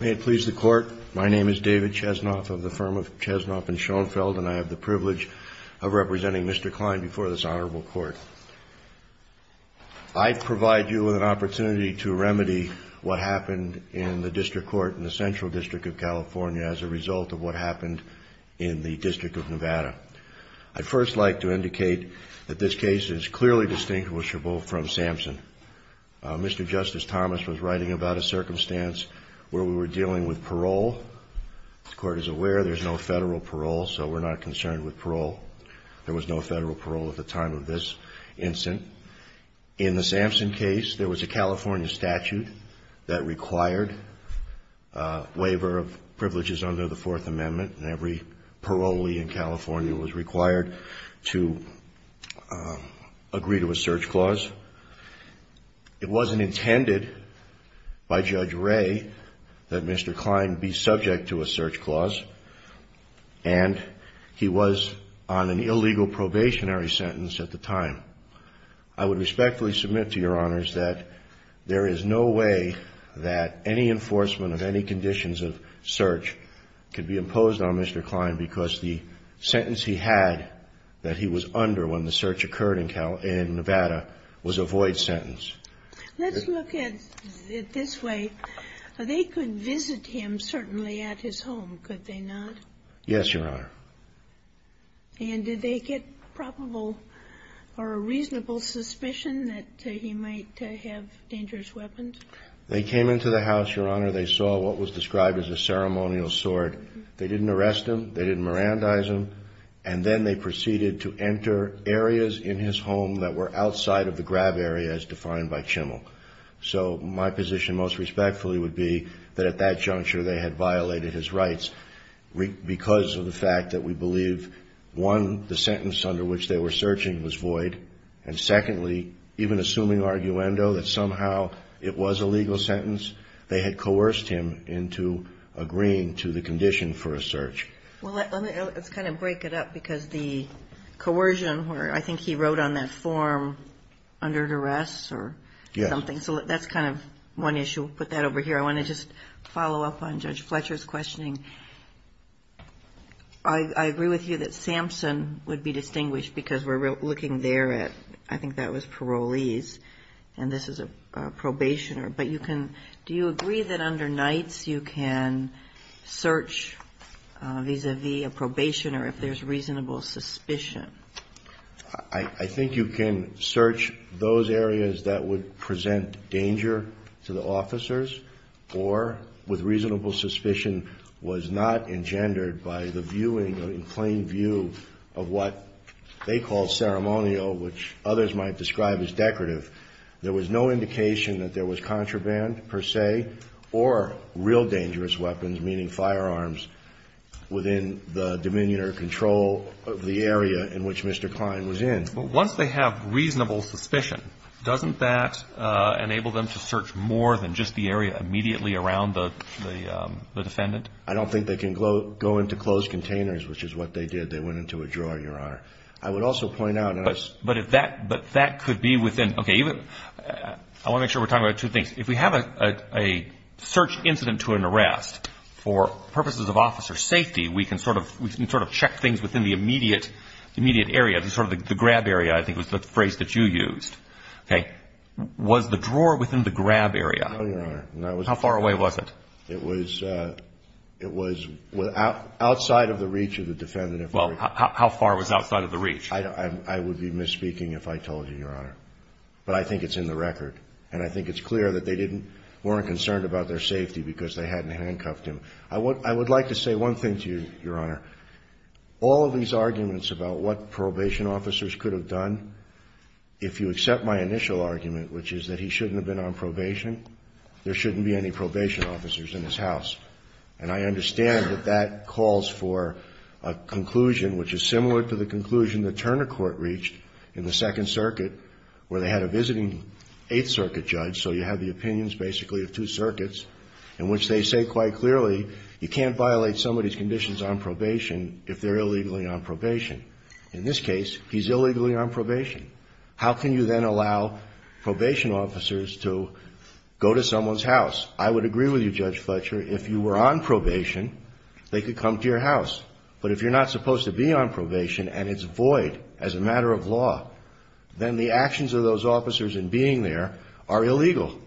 May it please the Court, my name is David Chesnoff of the firm of Chesnoff & Schoenfeld and I have the privilege of representing Mr. Klein before this honorable Court. I provide you with an opportunity to remedy what happened in the District Court in the Central District of California as a result of what happened in the District of Nevada. I'd first like to indicate that this case is clearly distinguishable from Sampson. Mr. Justice Thomas was writing about a circumstance where we were dealing with parole. The Court is aware there's no federal parole, so we're not concerned with parole. There was no federal parole at the time of this incident. In the Sampson case, there was a California statute that required waiver of privileges under the Fourth Amendment and every parolee in California was required to agree to a search clause. It wasn't intended by Judge Ray that Mr. Klein be subject to a search clause and he was on an illegal probationary sentence at the time. I would respectfully submit to your honors that there is no way that any enforcement of any conditions of the sentence he had that he was under when the search occurred in Nevada was a void sentence. Let's look at it this way. They could visit him, certainly, at his home, could they not? Yes, your honor. And did they get probable or a reasonable suspicion that he might have dangerous weapons? They came into the house, your honor. They saw what was described as a mirandizum and then they proceeded to enter areas in his home that were outside of the grab area as defined by Chimmel. So my position most respectfully would be that at that juncture they had violated his rights because of the fact that we believe, one, the sentence under which they were searching was void, and secondly, even assuming arguendo, that somehow it was a legal sentence, they had coerced him into agreeing to the condition for a search. Well, let's kind of break it up because the coercion where I think he wrote on that form under duress or something, so that's kind of one issue. We'll put that over here. I want to just follow up on Judge Fletcher's questioning. I agree with you that Samson would be distinguished because we're looking there at, I think that was parolees, and this is a probationer. But you can, do you agree that under nights you can search vis-a-vis a probationer if there's reasonable suspicion? I think you can search those areas that would present danger to the officers or with reasonable suspicion was not engendered by the viewing or in plain view of what they call ceremonial, which others might describe as decorative. There was no indication that there was contraband per se or real dangerous weapons, meaning firearms, within the dominion or control of the area in which Mr. Kline was in. But once they have reasonable suspicion, doesn't that enable them to search more than just the area immediately around the defendant? I don't think they can go into closed containers, which is what they did. They went into a drawer, but that could be within, okay, I want to make sure we're talking about two things. If we have a search incident to an arrest, for purposes of officer safety, we can sort of check things within the immediate area, sort of the grab area, I think was the phrase that you used. Okay. Was the drawer within the grab area? No, Your Honor. How far away was it? It was outside of the reach of the defendant. Well, how far was outside of the reach? I would be misspeaking if I told you, Your Honor. But I think it's in the record. And I think it's clear that they didn't, weren't concerned about their safety because they hadn't handcuffed him. I would like to say one thing to you, Your Honor. All of these arguments about what probation officers could have done, if you accept my initial argument, which is that he shouldn't have been on probation, there shouldn't be any probation officers in his house. And I would agree with you, Judge Fletcher, if you were on probation, they could come to your house. But if you're not supposed to be on probation and it's void as a matter of law, then the actions of those officers in being there are illegal.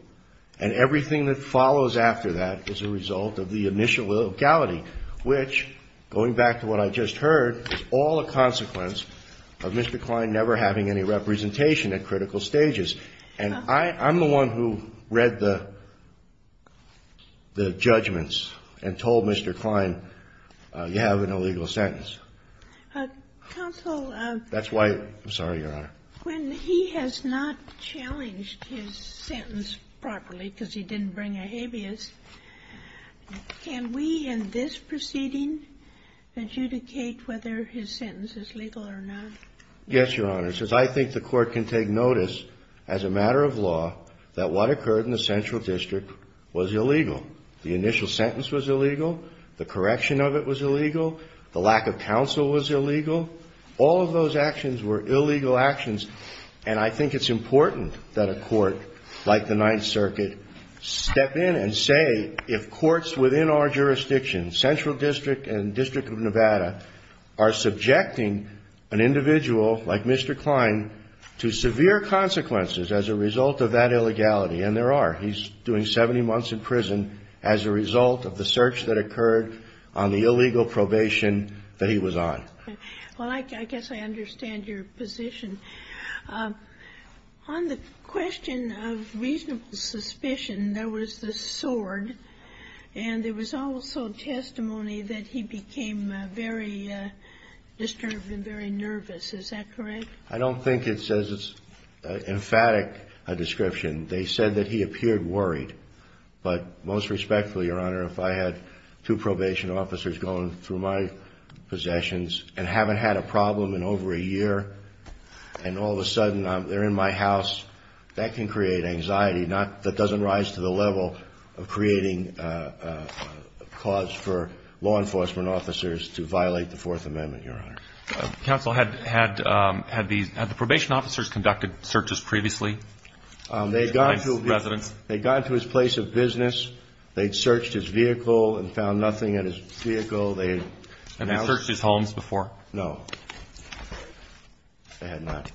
And everything that follows after that is a result of the initial illegality, which, going back to what I just heard, is all a consequence of Mr. Kline never having any representation at critical stages. And I'm the one who read the judgments and told Mr. Kline that he should not be on So, you have an illegal sentence. Counsel ---- That's why ---- I'm sorry, Your Honor. When he has not challenged his sentence properly because he didn't bring a habeas, can we in this proceeding adjudicate whether his sentence is legal or not? Yes, Your Honor. It says, I think the Court can take notice as a matter of law that what occurred in the central district was illegal. The initial sentence was illegal. The correction of it was illegal. The lack of counsel was illegal. All of those actions were illegal actions. And I think it's important that a court like the Ninth Circuit step in and say, if courts within our jurisdiction, central district and District of Nevada, are subjecting an individual like Mr. Kline to severe consequences as a result of that illegality and there are. He's doing 70 months in prison as a result of the search that occurred on the illegal probation that he was on. Well, I guess I understand your position. On the question of reasonable suspicion, there was the sword and there was also testimony that he became very disturbed and very nervous. Is that correct? I don't think it says it's an emphatic description. They said that he appeared worried. But most respectfully, Your Honor, if I had two probation officers going through my possessions and haven't had a problem in over a year and all of a sudden they're in my house, that can create anxiety that doesn't rise to the level of creating a cause for law enforcement officers to violate the Fourth Amendment, Your Honor. Counsel, had the probation officers conducted searches previously? They had gone to his place of business. They had searched his vehicle and found nothing in his vehicle. Had they searched his homes before? No. They had not.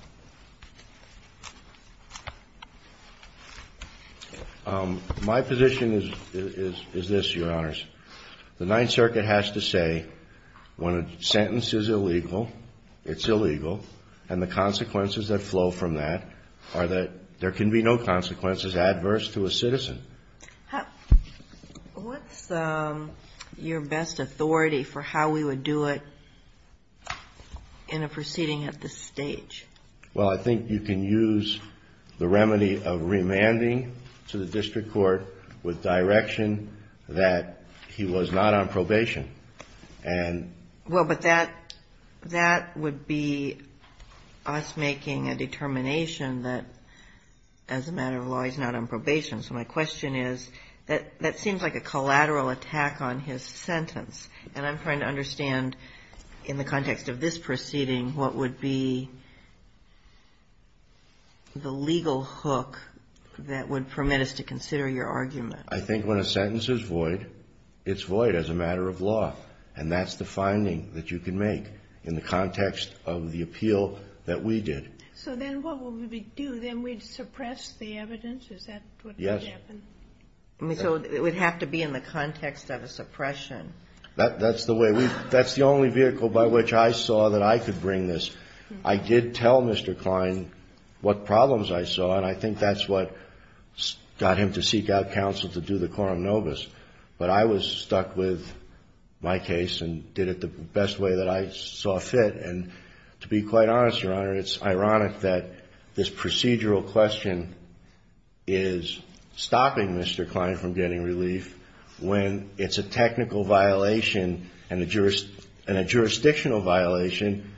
My position is this, Your Honors. The Ninth Circuit has to say, when a sentence is illegal it's illegal, and the consequences that flow from that are that there can be no consequences adverse to a citizen. What's your best authority for how we would do it in a proceeding at this stage? Well, I think you can use the remedy of remanding to the district court with direction that he was not on probation and Well, but that would be us making a determination that as a matter of law he's not on probation. So my question is, that seems like a collateral attack on his sentence, and I'm trying to understand in the context of this proceeding what would be the legal hook that would permit us to consider your argument. I think when a sentence is void, it's void as a matter of law, and that's the finding that you can make in the context of the appeal that we did. So then what would we do? Then we'd suppress the evidence? Is that what would happen? Yes. So it would have to be in the context of a suppression. That's the way. That's the only vehicle by which I saw that I could bring this. I did tell Mr. Klein what problems I saw, and I think that's what got him to seek out counsel to do the quorum nobis, but I was stuck with my case and did it the best way that I saw fit, and to be quite honest, Your Honor, it's ironic that this procedural question is stopping Mr. Klein from getting relief when it's a technical violation and a jurisdictional violation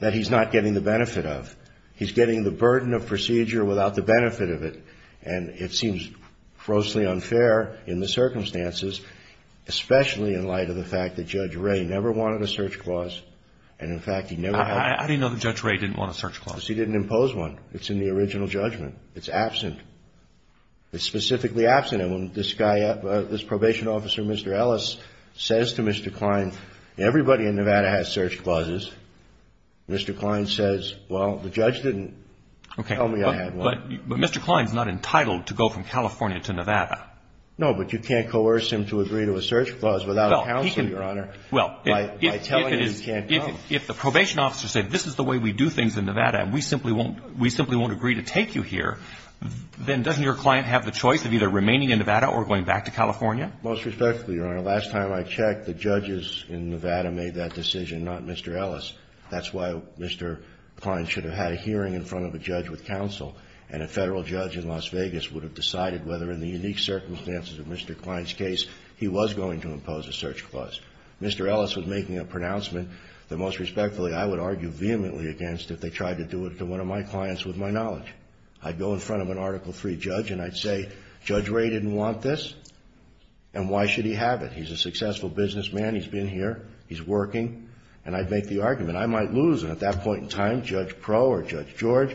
that he's not getting the benefit of. He's getting the burden of procedure without the jurisdiction. But you know, it's ironic that Mr. Klein didn't have a search clause in the original judgment because he was there in the circumstances, especially in light of the fact that Judge Ray never wanted a search clause, and in fact he never had one. I didn't know that Judge Ray didn't want a search clause. Because he didn't impose one. It's in the original judgment. It's absent. It's specifically absent and when this guy, this probation officer, Mr. Ellis, says to Mr. Klein, everybody in California to Nevada. No, but you can't coerce him to agree to a search clause without counsel, Your Honor. Well, if the probation officer said, this is the way we do things in Nevada and we simply won't agree to take you here, then doesn't your client have the choice of either remaining in Nevada or going back to California? Most respectfully, Your Honor, last time I checked, the judges in Nevada made that decision, not Mr. Ellis. That's why Mr. Klein should have had a hearing in front of a judge with Mr. Klein's case, he was going to impose a search clause. Mr. Ellis was making a pronouncement that, most respectfully, I would argue vehemently against if they tried to do it to one of my clients with my knowledge. I'd go in front of an Article III judge and I'd say, Judge Ray didn't want this, and why should he have it? He's a successful businessman. He's been here. He's working. And I'd make the argument. I might lose, and at that point in time, Judge Pro or Judge George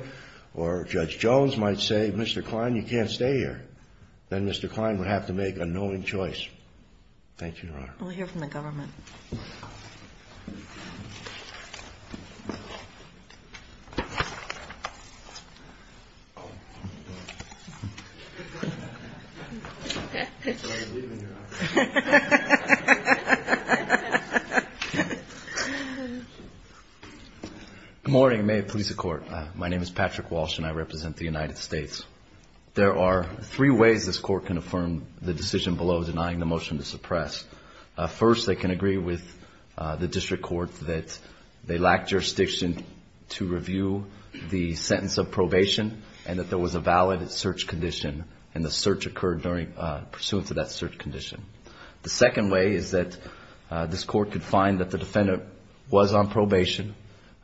or Judge Jones might say, Mr. Klein, you can't stay here. Then Mr. Klein would have to make a knowing choice. Thank you, Your Honor. We'll hear from the government. Good morning. May it please the Court. My name is Patrick Walsh and I represent the United States. There are three ways this Court can affirm the decision below denying the motion to suppress. First, they can agree with the District Court that they lacked jurisdiction to review the sentence of probation and that there was a valid search condition and the search occurred pursuant to that search condition. The second way is that this Court could find that the defendant was on probation,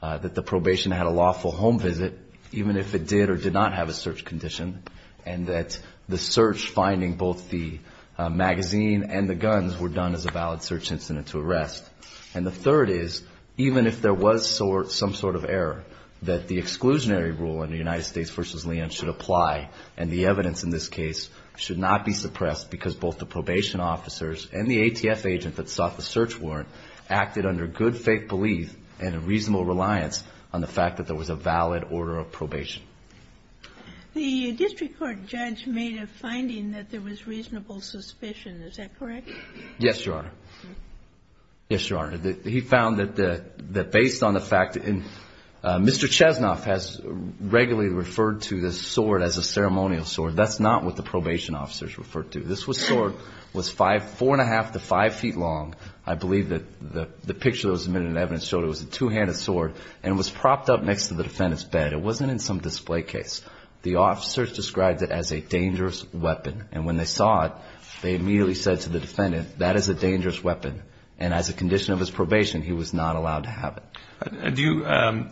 that the probation had a lawful home visit, even if it did or did not have a search condition, and that the search finding both the magazine and the guns were done as a valid search incident to arrest. And the third is, even if there was some sort of error, that the exclusionary rule in the United States v. Leon should apply and the evidence in this case should not be suppressed because both the probation officers and the ATF agent that sought the search warrant acted under good faith belief and a reasonable reliance on the fact that there was a valid order of probation. The District Court judge made a finding that there was reasonable suspicion. Is that correct? Yes, Your Honor. Yes, Your Honor. He found that based on the fact that Mr. Chesnoff has regularly referred to this sword as a ceremonial sword. That's not what the probation officers refer to. This sword was four and a half to five feet long. I believe that the picture that was submitted in the evidence showed it was a two-handed sword and was propped up next to the defendant's bed. It wasn't in some display case. The officers described it as a dangerous weapon. And when they saw it, they immediately said to the defendant, that is a dangerous weapon. And as a condition of his probation, he was not allowed to have it. Do you – I'm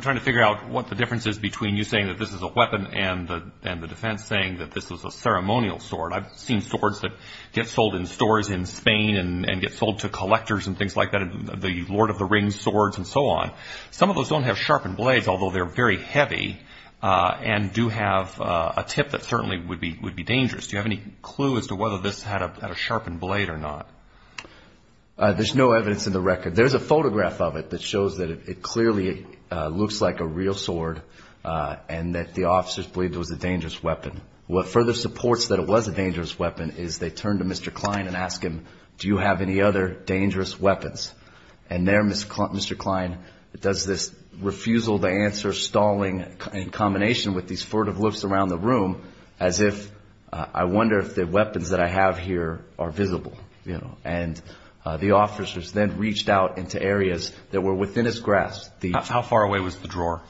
trying to figure out what the difference is between you saying that this is a weapon and the defense saying that this is a ceremonial sword. I've seen swords that get sold in stores in Spain and get sold to collectors and things like that, the Lord of the Rings swords and so on. Some of those don't have sharpened blades, although they're very heavy and do have a tip that certainly would be dangerous. Do you have any clue as to whether this had a sharpened blade or not? There's no evidence in the record. There's a photograph of it that shows that it clearly looks like a real sword and that the officers believe it was a dangerous weapon. What further supports that it was a dangerous weapon is they turn to Mr. Klein and ask him, do you have any other dangerous weapons? And there, Mr. Klein does this refusal to answer stalling in combination with these furtive looks around the room as if, I wonder if the weapons that I have here are visible, you know. And the officers then reached out into areas that were within his grasp. How far away was the drawer?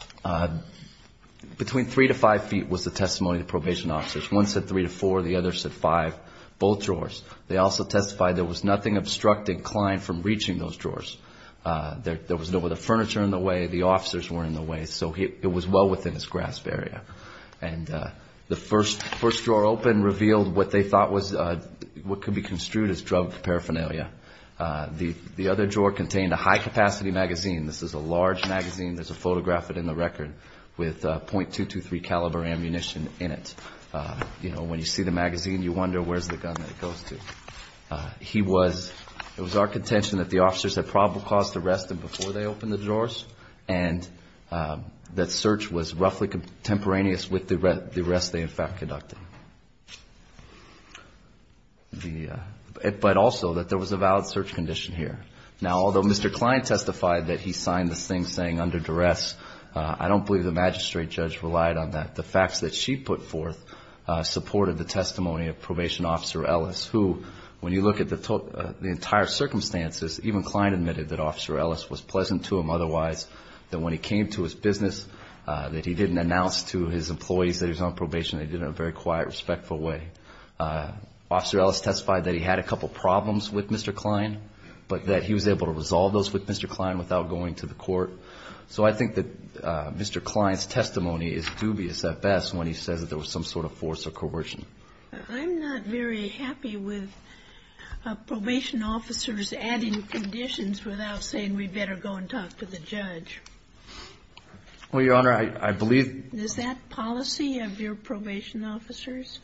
Between three to five feet was the testimony of the probation officers. One said three to four, the other said five, both drawers. They also testified there was nothing obstructing Klein from reaching those drawers. There was no other furniture in the way, the officers weren't in the way, so it was well within his grasp area. And the first drawer open revealed what they thought could be construed as drug paraphernalia. The other drawer contained a high-capacity magazine. This is a large magazine, there's a photograph of it in the record with .223 caliber ammunition in it. You know, when you see the magazine, you wonder where's the gun that it goes to. He was, it was our contention that the officers had probable cause to arrest him before they opened the drawers and that search was roughly contemporaneous with the arrest they in fact conducted. The, but also that there was a valid search condition here. Now, although Mr. Klein testified that he signed this thing saying under duress, I don't believe the magistrate judge relied on that. The facts that she put forth supported the testimony of Probation Officer Ellis who, when you look at the entire circumstances, even Klein admitted that Officer Ellis was pleasant to him otherwise, that when he came to his business, that he didn't announce to his employees that he was on probation, they did it in a very quiet, respectful way. Officer Ellis testified that he had a couple problems with Mr. Klein, but that he was able to resolve those with Mr. Klein without going to the court. So I think that Mr. Klein's testimony is dubious at best when he says that there was some sort of force or coercion. I'm not very happy with Probation Officers adding conditions without saying we better go and talk to the judge. Well, Your Honor, I believe Is that policy of your Probation Officers?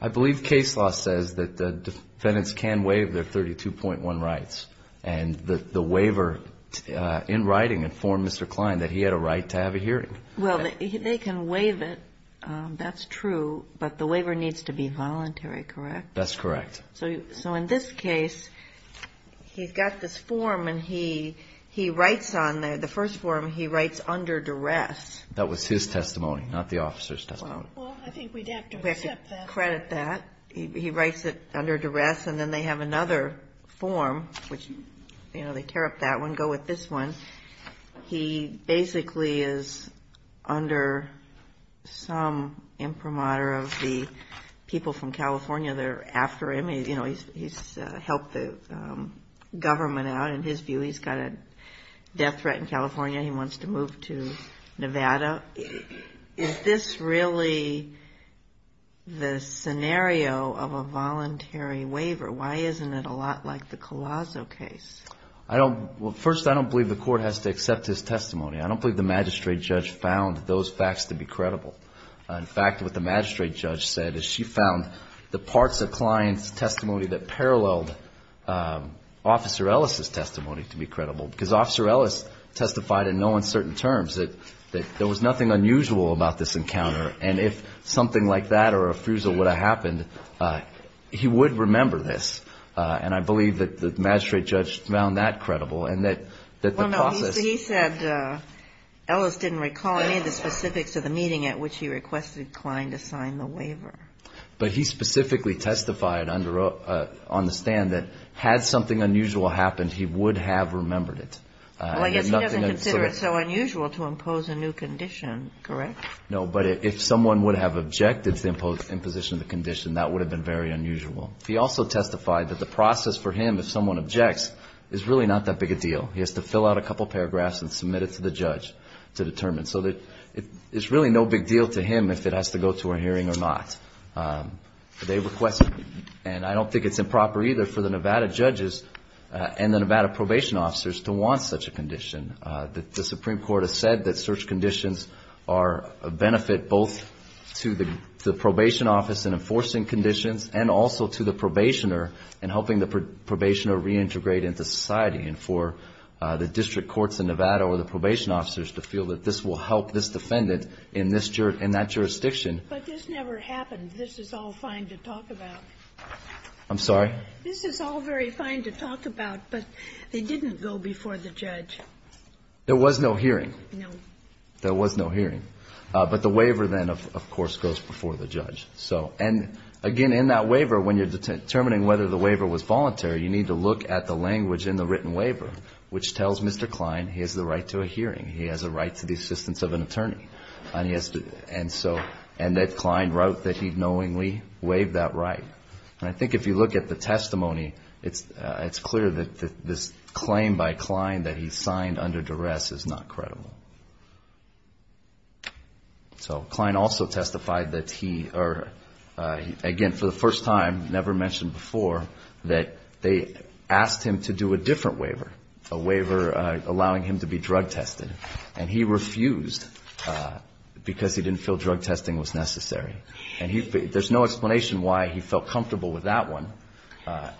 I believe case law says that defendants can waive their 32.1 rights. And the waiver in writing informed Mr. Klein that he had a right to have a hearing. Well, they can waive it. That's true. But the waiver needs to be voluntary, correct? That's correct. So in this case, he's got this form and he writes on there, the first form he writes under duress. That was his testimony, not the officer's testimony. Well, I think we'd have to accept that. We have to credit that. He writes it under duress. And then they have another form, which, you know, they tear up that one, go with this one. He basically is under some imprimatur of the people from California that are after him. You know, he's helped the government out. In his view, he's got a death threat in California. He wants to move to Nevada. Is this really the scenario of a voluntary waiver? Why isn't it a lot like the Colosso case? I don't – well, first, I don't believe the Court has to accept his testimony. I don't believe the magistrate judge found those facts to be credible. In fact, what the magistrate judge said is she found the parts of Klein's testimony that paralleled Officer Ellis' testimony to be credible. Because Officer Ellis testified in no uncertain terms that there was nothing unusual about this encounter. And if something like that or a fruso would have happened, he would remember this. And I believe that the magistrate judge found that credible and that the process – Ellis didn't recall any of the specifics of the meeting at which he requested Klein to sign the waiver. But he specifically testified under – on the stand that had something unusual happened, he would have remembered it. Well, I guess he doesn't consider it so unusual to impose a new condition, correct? No. But if someone would have objected to the imposition of the condition, that would have been very unusual. He also testified that the process for him, if someone objects, is really not that big a deal. He has to fill out a couple paragraphs and submit it to the judge to determine. So it's really no big deal to him if it has to go to a hearing or not. They requested – and I don't think it's improper either for the Nevada judges and the Nevada probation officers to want such a condition. The Supreme Court has said that such conditions are a benefit both to the probation office in enforcing conditions and also to the probationer in helping the probationer reintegrate into society. And for the district courts in Nevada or the probation officers to feel that this will help this defendant in this – in that jurisdiction. But this never happened. This is all fine to talk about. I'm sorry? This is all very fine to talk about, but they didn't go before the judge. There was no hearing. No. There was no hearing. But the waiver, then, of course, goes before the judge. So – and, again, in that waiver, when you're determining whether the waiver was which tells Mr. Klein he has the right to a hearing, he has a right to the assistance of an attorney, and he has to – and so – and that Klein wrote that he knowingly waived that right. And I think if you look at the testimony, it's clear that this claim by Klein that he signed under duress is not credible. So Klein also testified that he – or, again, for the first time, never mentioned before, that they asked him to do a different waiver, a waiver allowing him to be drug tested. And he refused because he didn't feel drug testing was necessary. And he – there's no explanation why he felt comfortable with that one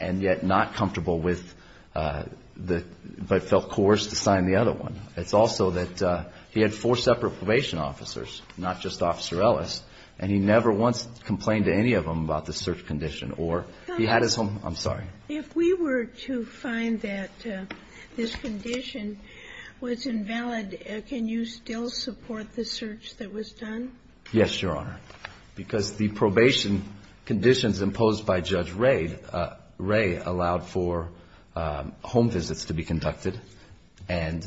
and yet not comfortable with the – but felt coerced to sign the other one. It's also that he had four separate probation officers, not just Officer Ellis, and he never once complained to any of them about the search condition, or he had his home – I'm sorry. If we were to find that this condition was invalid, can you still support the search that was done? Yes, Your Honor, because the probation conditions imposed by Judge Wray allowed for home visits to be conducted and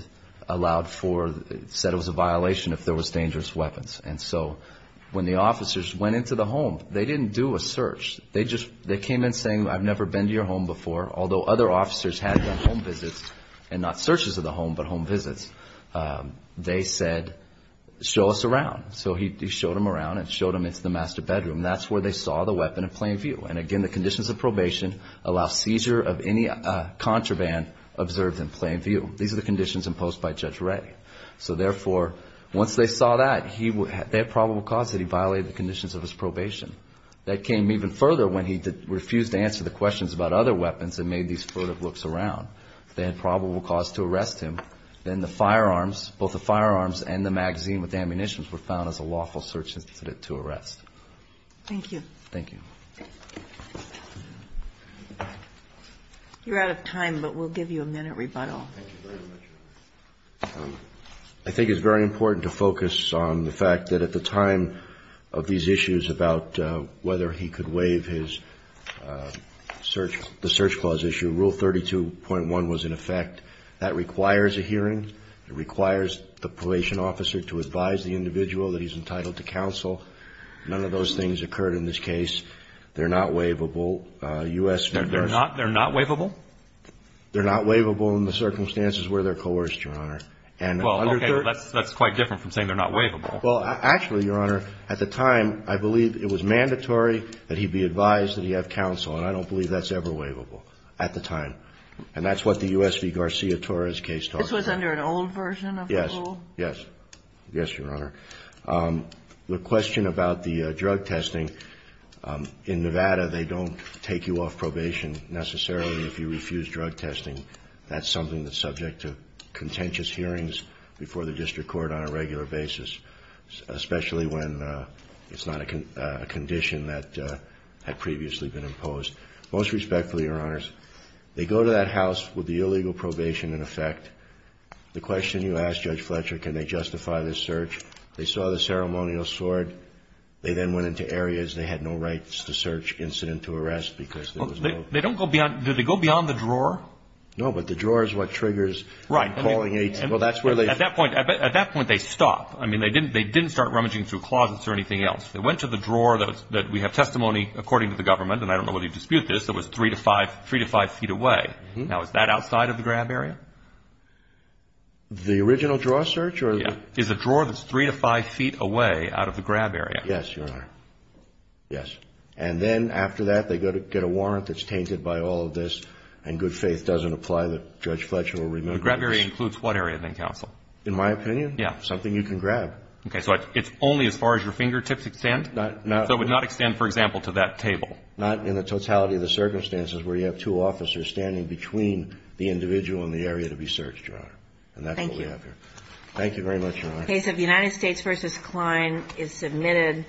allowed for – said it was a violation if there was dangerous weapons. And so when the officers went into the home, they didn't do a search. They just – they came in saying, I've never been to your home before, although other officers had done home visits and not searches of the home, but home visits. They said, show us around. So he showed them around and showed them into the master bedroom. That's where they saw the weapon in plain view. And again, the conditions of probation allow seizure of any contraband observed in plain view. These are the conditions imposed by Judge Wray. So therefore, once they saw that, they had probable cause that he violated the conditions of his probation. That came even further when he refused to answer the questions about other weapons and made these furtive looks around. They had probable cause to arrest him. Then the firearms, both the firearms and the magazine with the ammunitions, were found as a lawful search incident to arrest. Thank you. Thank you. You're out of time, but we'll give you a minute rebuttal. I think it's very important to focus on the fact that at the time of these issues about whether he could waive his search, the search clause issue, Rule 32.1 was in effect. That requires a hearing. It requires the probation officer to advise the individual that he's entitled to counsel. None of those things occurred in this case. They're not waivable. U.S. They're not waivable? They're not waivable in the circumstances where they're coerced, Your Honor. Well, okay, that's quite different from saying they're not waivable. Well, actually, Your Honor, at the time, I believe it was mandatory that he be advised that he have counsel. I don't believe that's ever waivable at the time. That's what the U.S. v. Garcia-Torres case taught us. This was under an old version of the rule? Yes. Yes. Yes, Your Honor. The question about the drug testing, in Nevada, they don't take you off probation necessarily if you refuse drug testing. That's something that's subject to contentious hearings before the district court on a regular basis, especially when it's not a condition that had previously been imposed. Most respectfully, Your Honors, they go to that house with the illegal probation in effect. The question you asked, Judge Fletcher, can they justify this search? They saw the ceremonial sword. They then went into areas they had no rights to search incident to arrest because there was no ---- They don't go beyond, do they go beyond the drawer? No, but the drawer is what triggers calling 8- Right. At that point, they stop. I mean, they didn't start rummaging through closets or anything else. They went to the drawer that we have testimony, according to the government, and I don't know whether you dispute this, that was 3 to 5 feet away. Now, is that outside of the grab area? The original drawer search? Is the drawer that's 3 to 5 feet away out of the grab area? Yes, Your Honor. Yes. And then after that, they go to get a warrant that's tainted by all of this, and good faith doesn't apply that Judge Fletcher will remember this. The grab area includes what area, then, Counsel? In my opinion? Yes. Something you can grab. Okay, so it's only as far as your fingertips extend? Not- So it would not extend, for example, to that table? Not in the totality of the circumstances where you have two officers standing between the individual and the area to be searched, Your Honor. And that's what we have here. Thank you. Thank you very much, Your Honor. The case of United States v. Kline is submitted.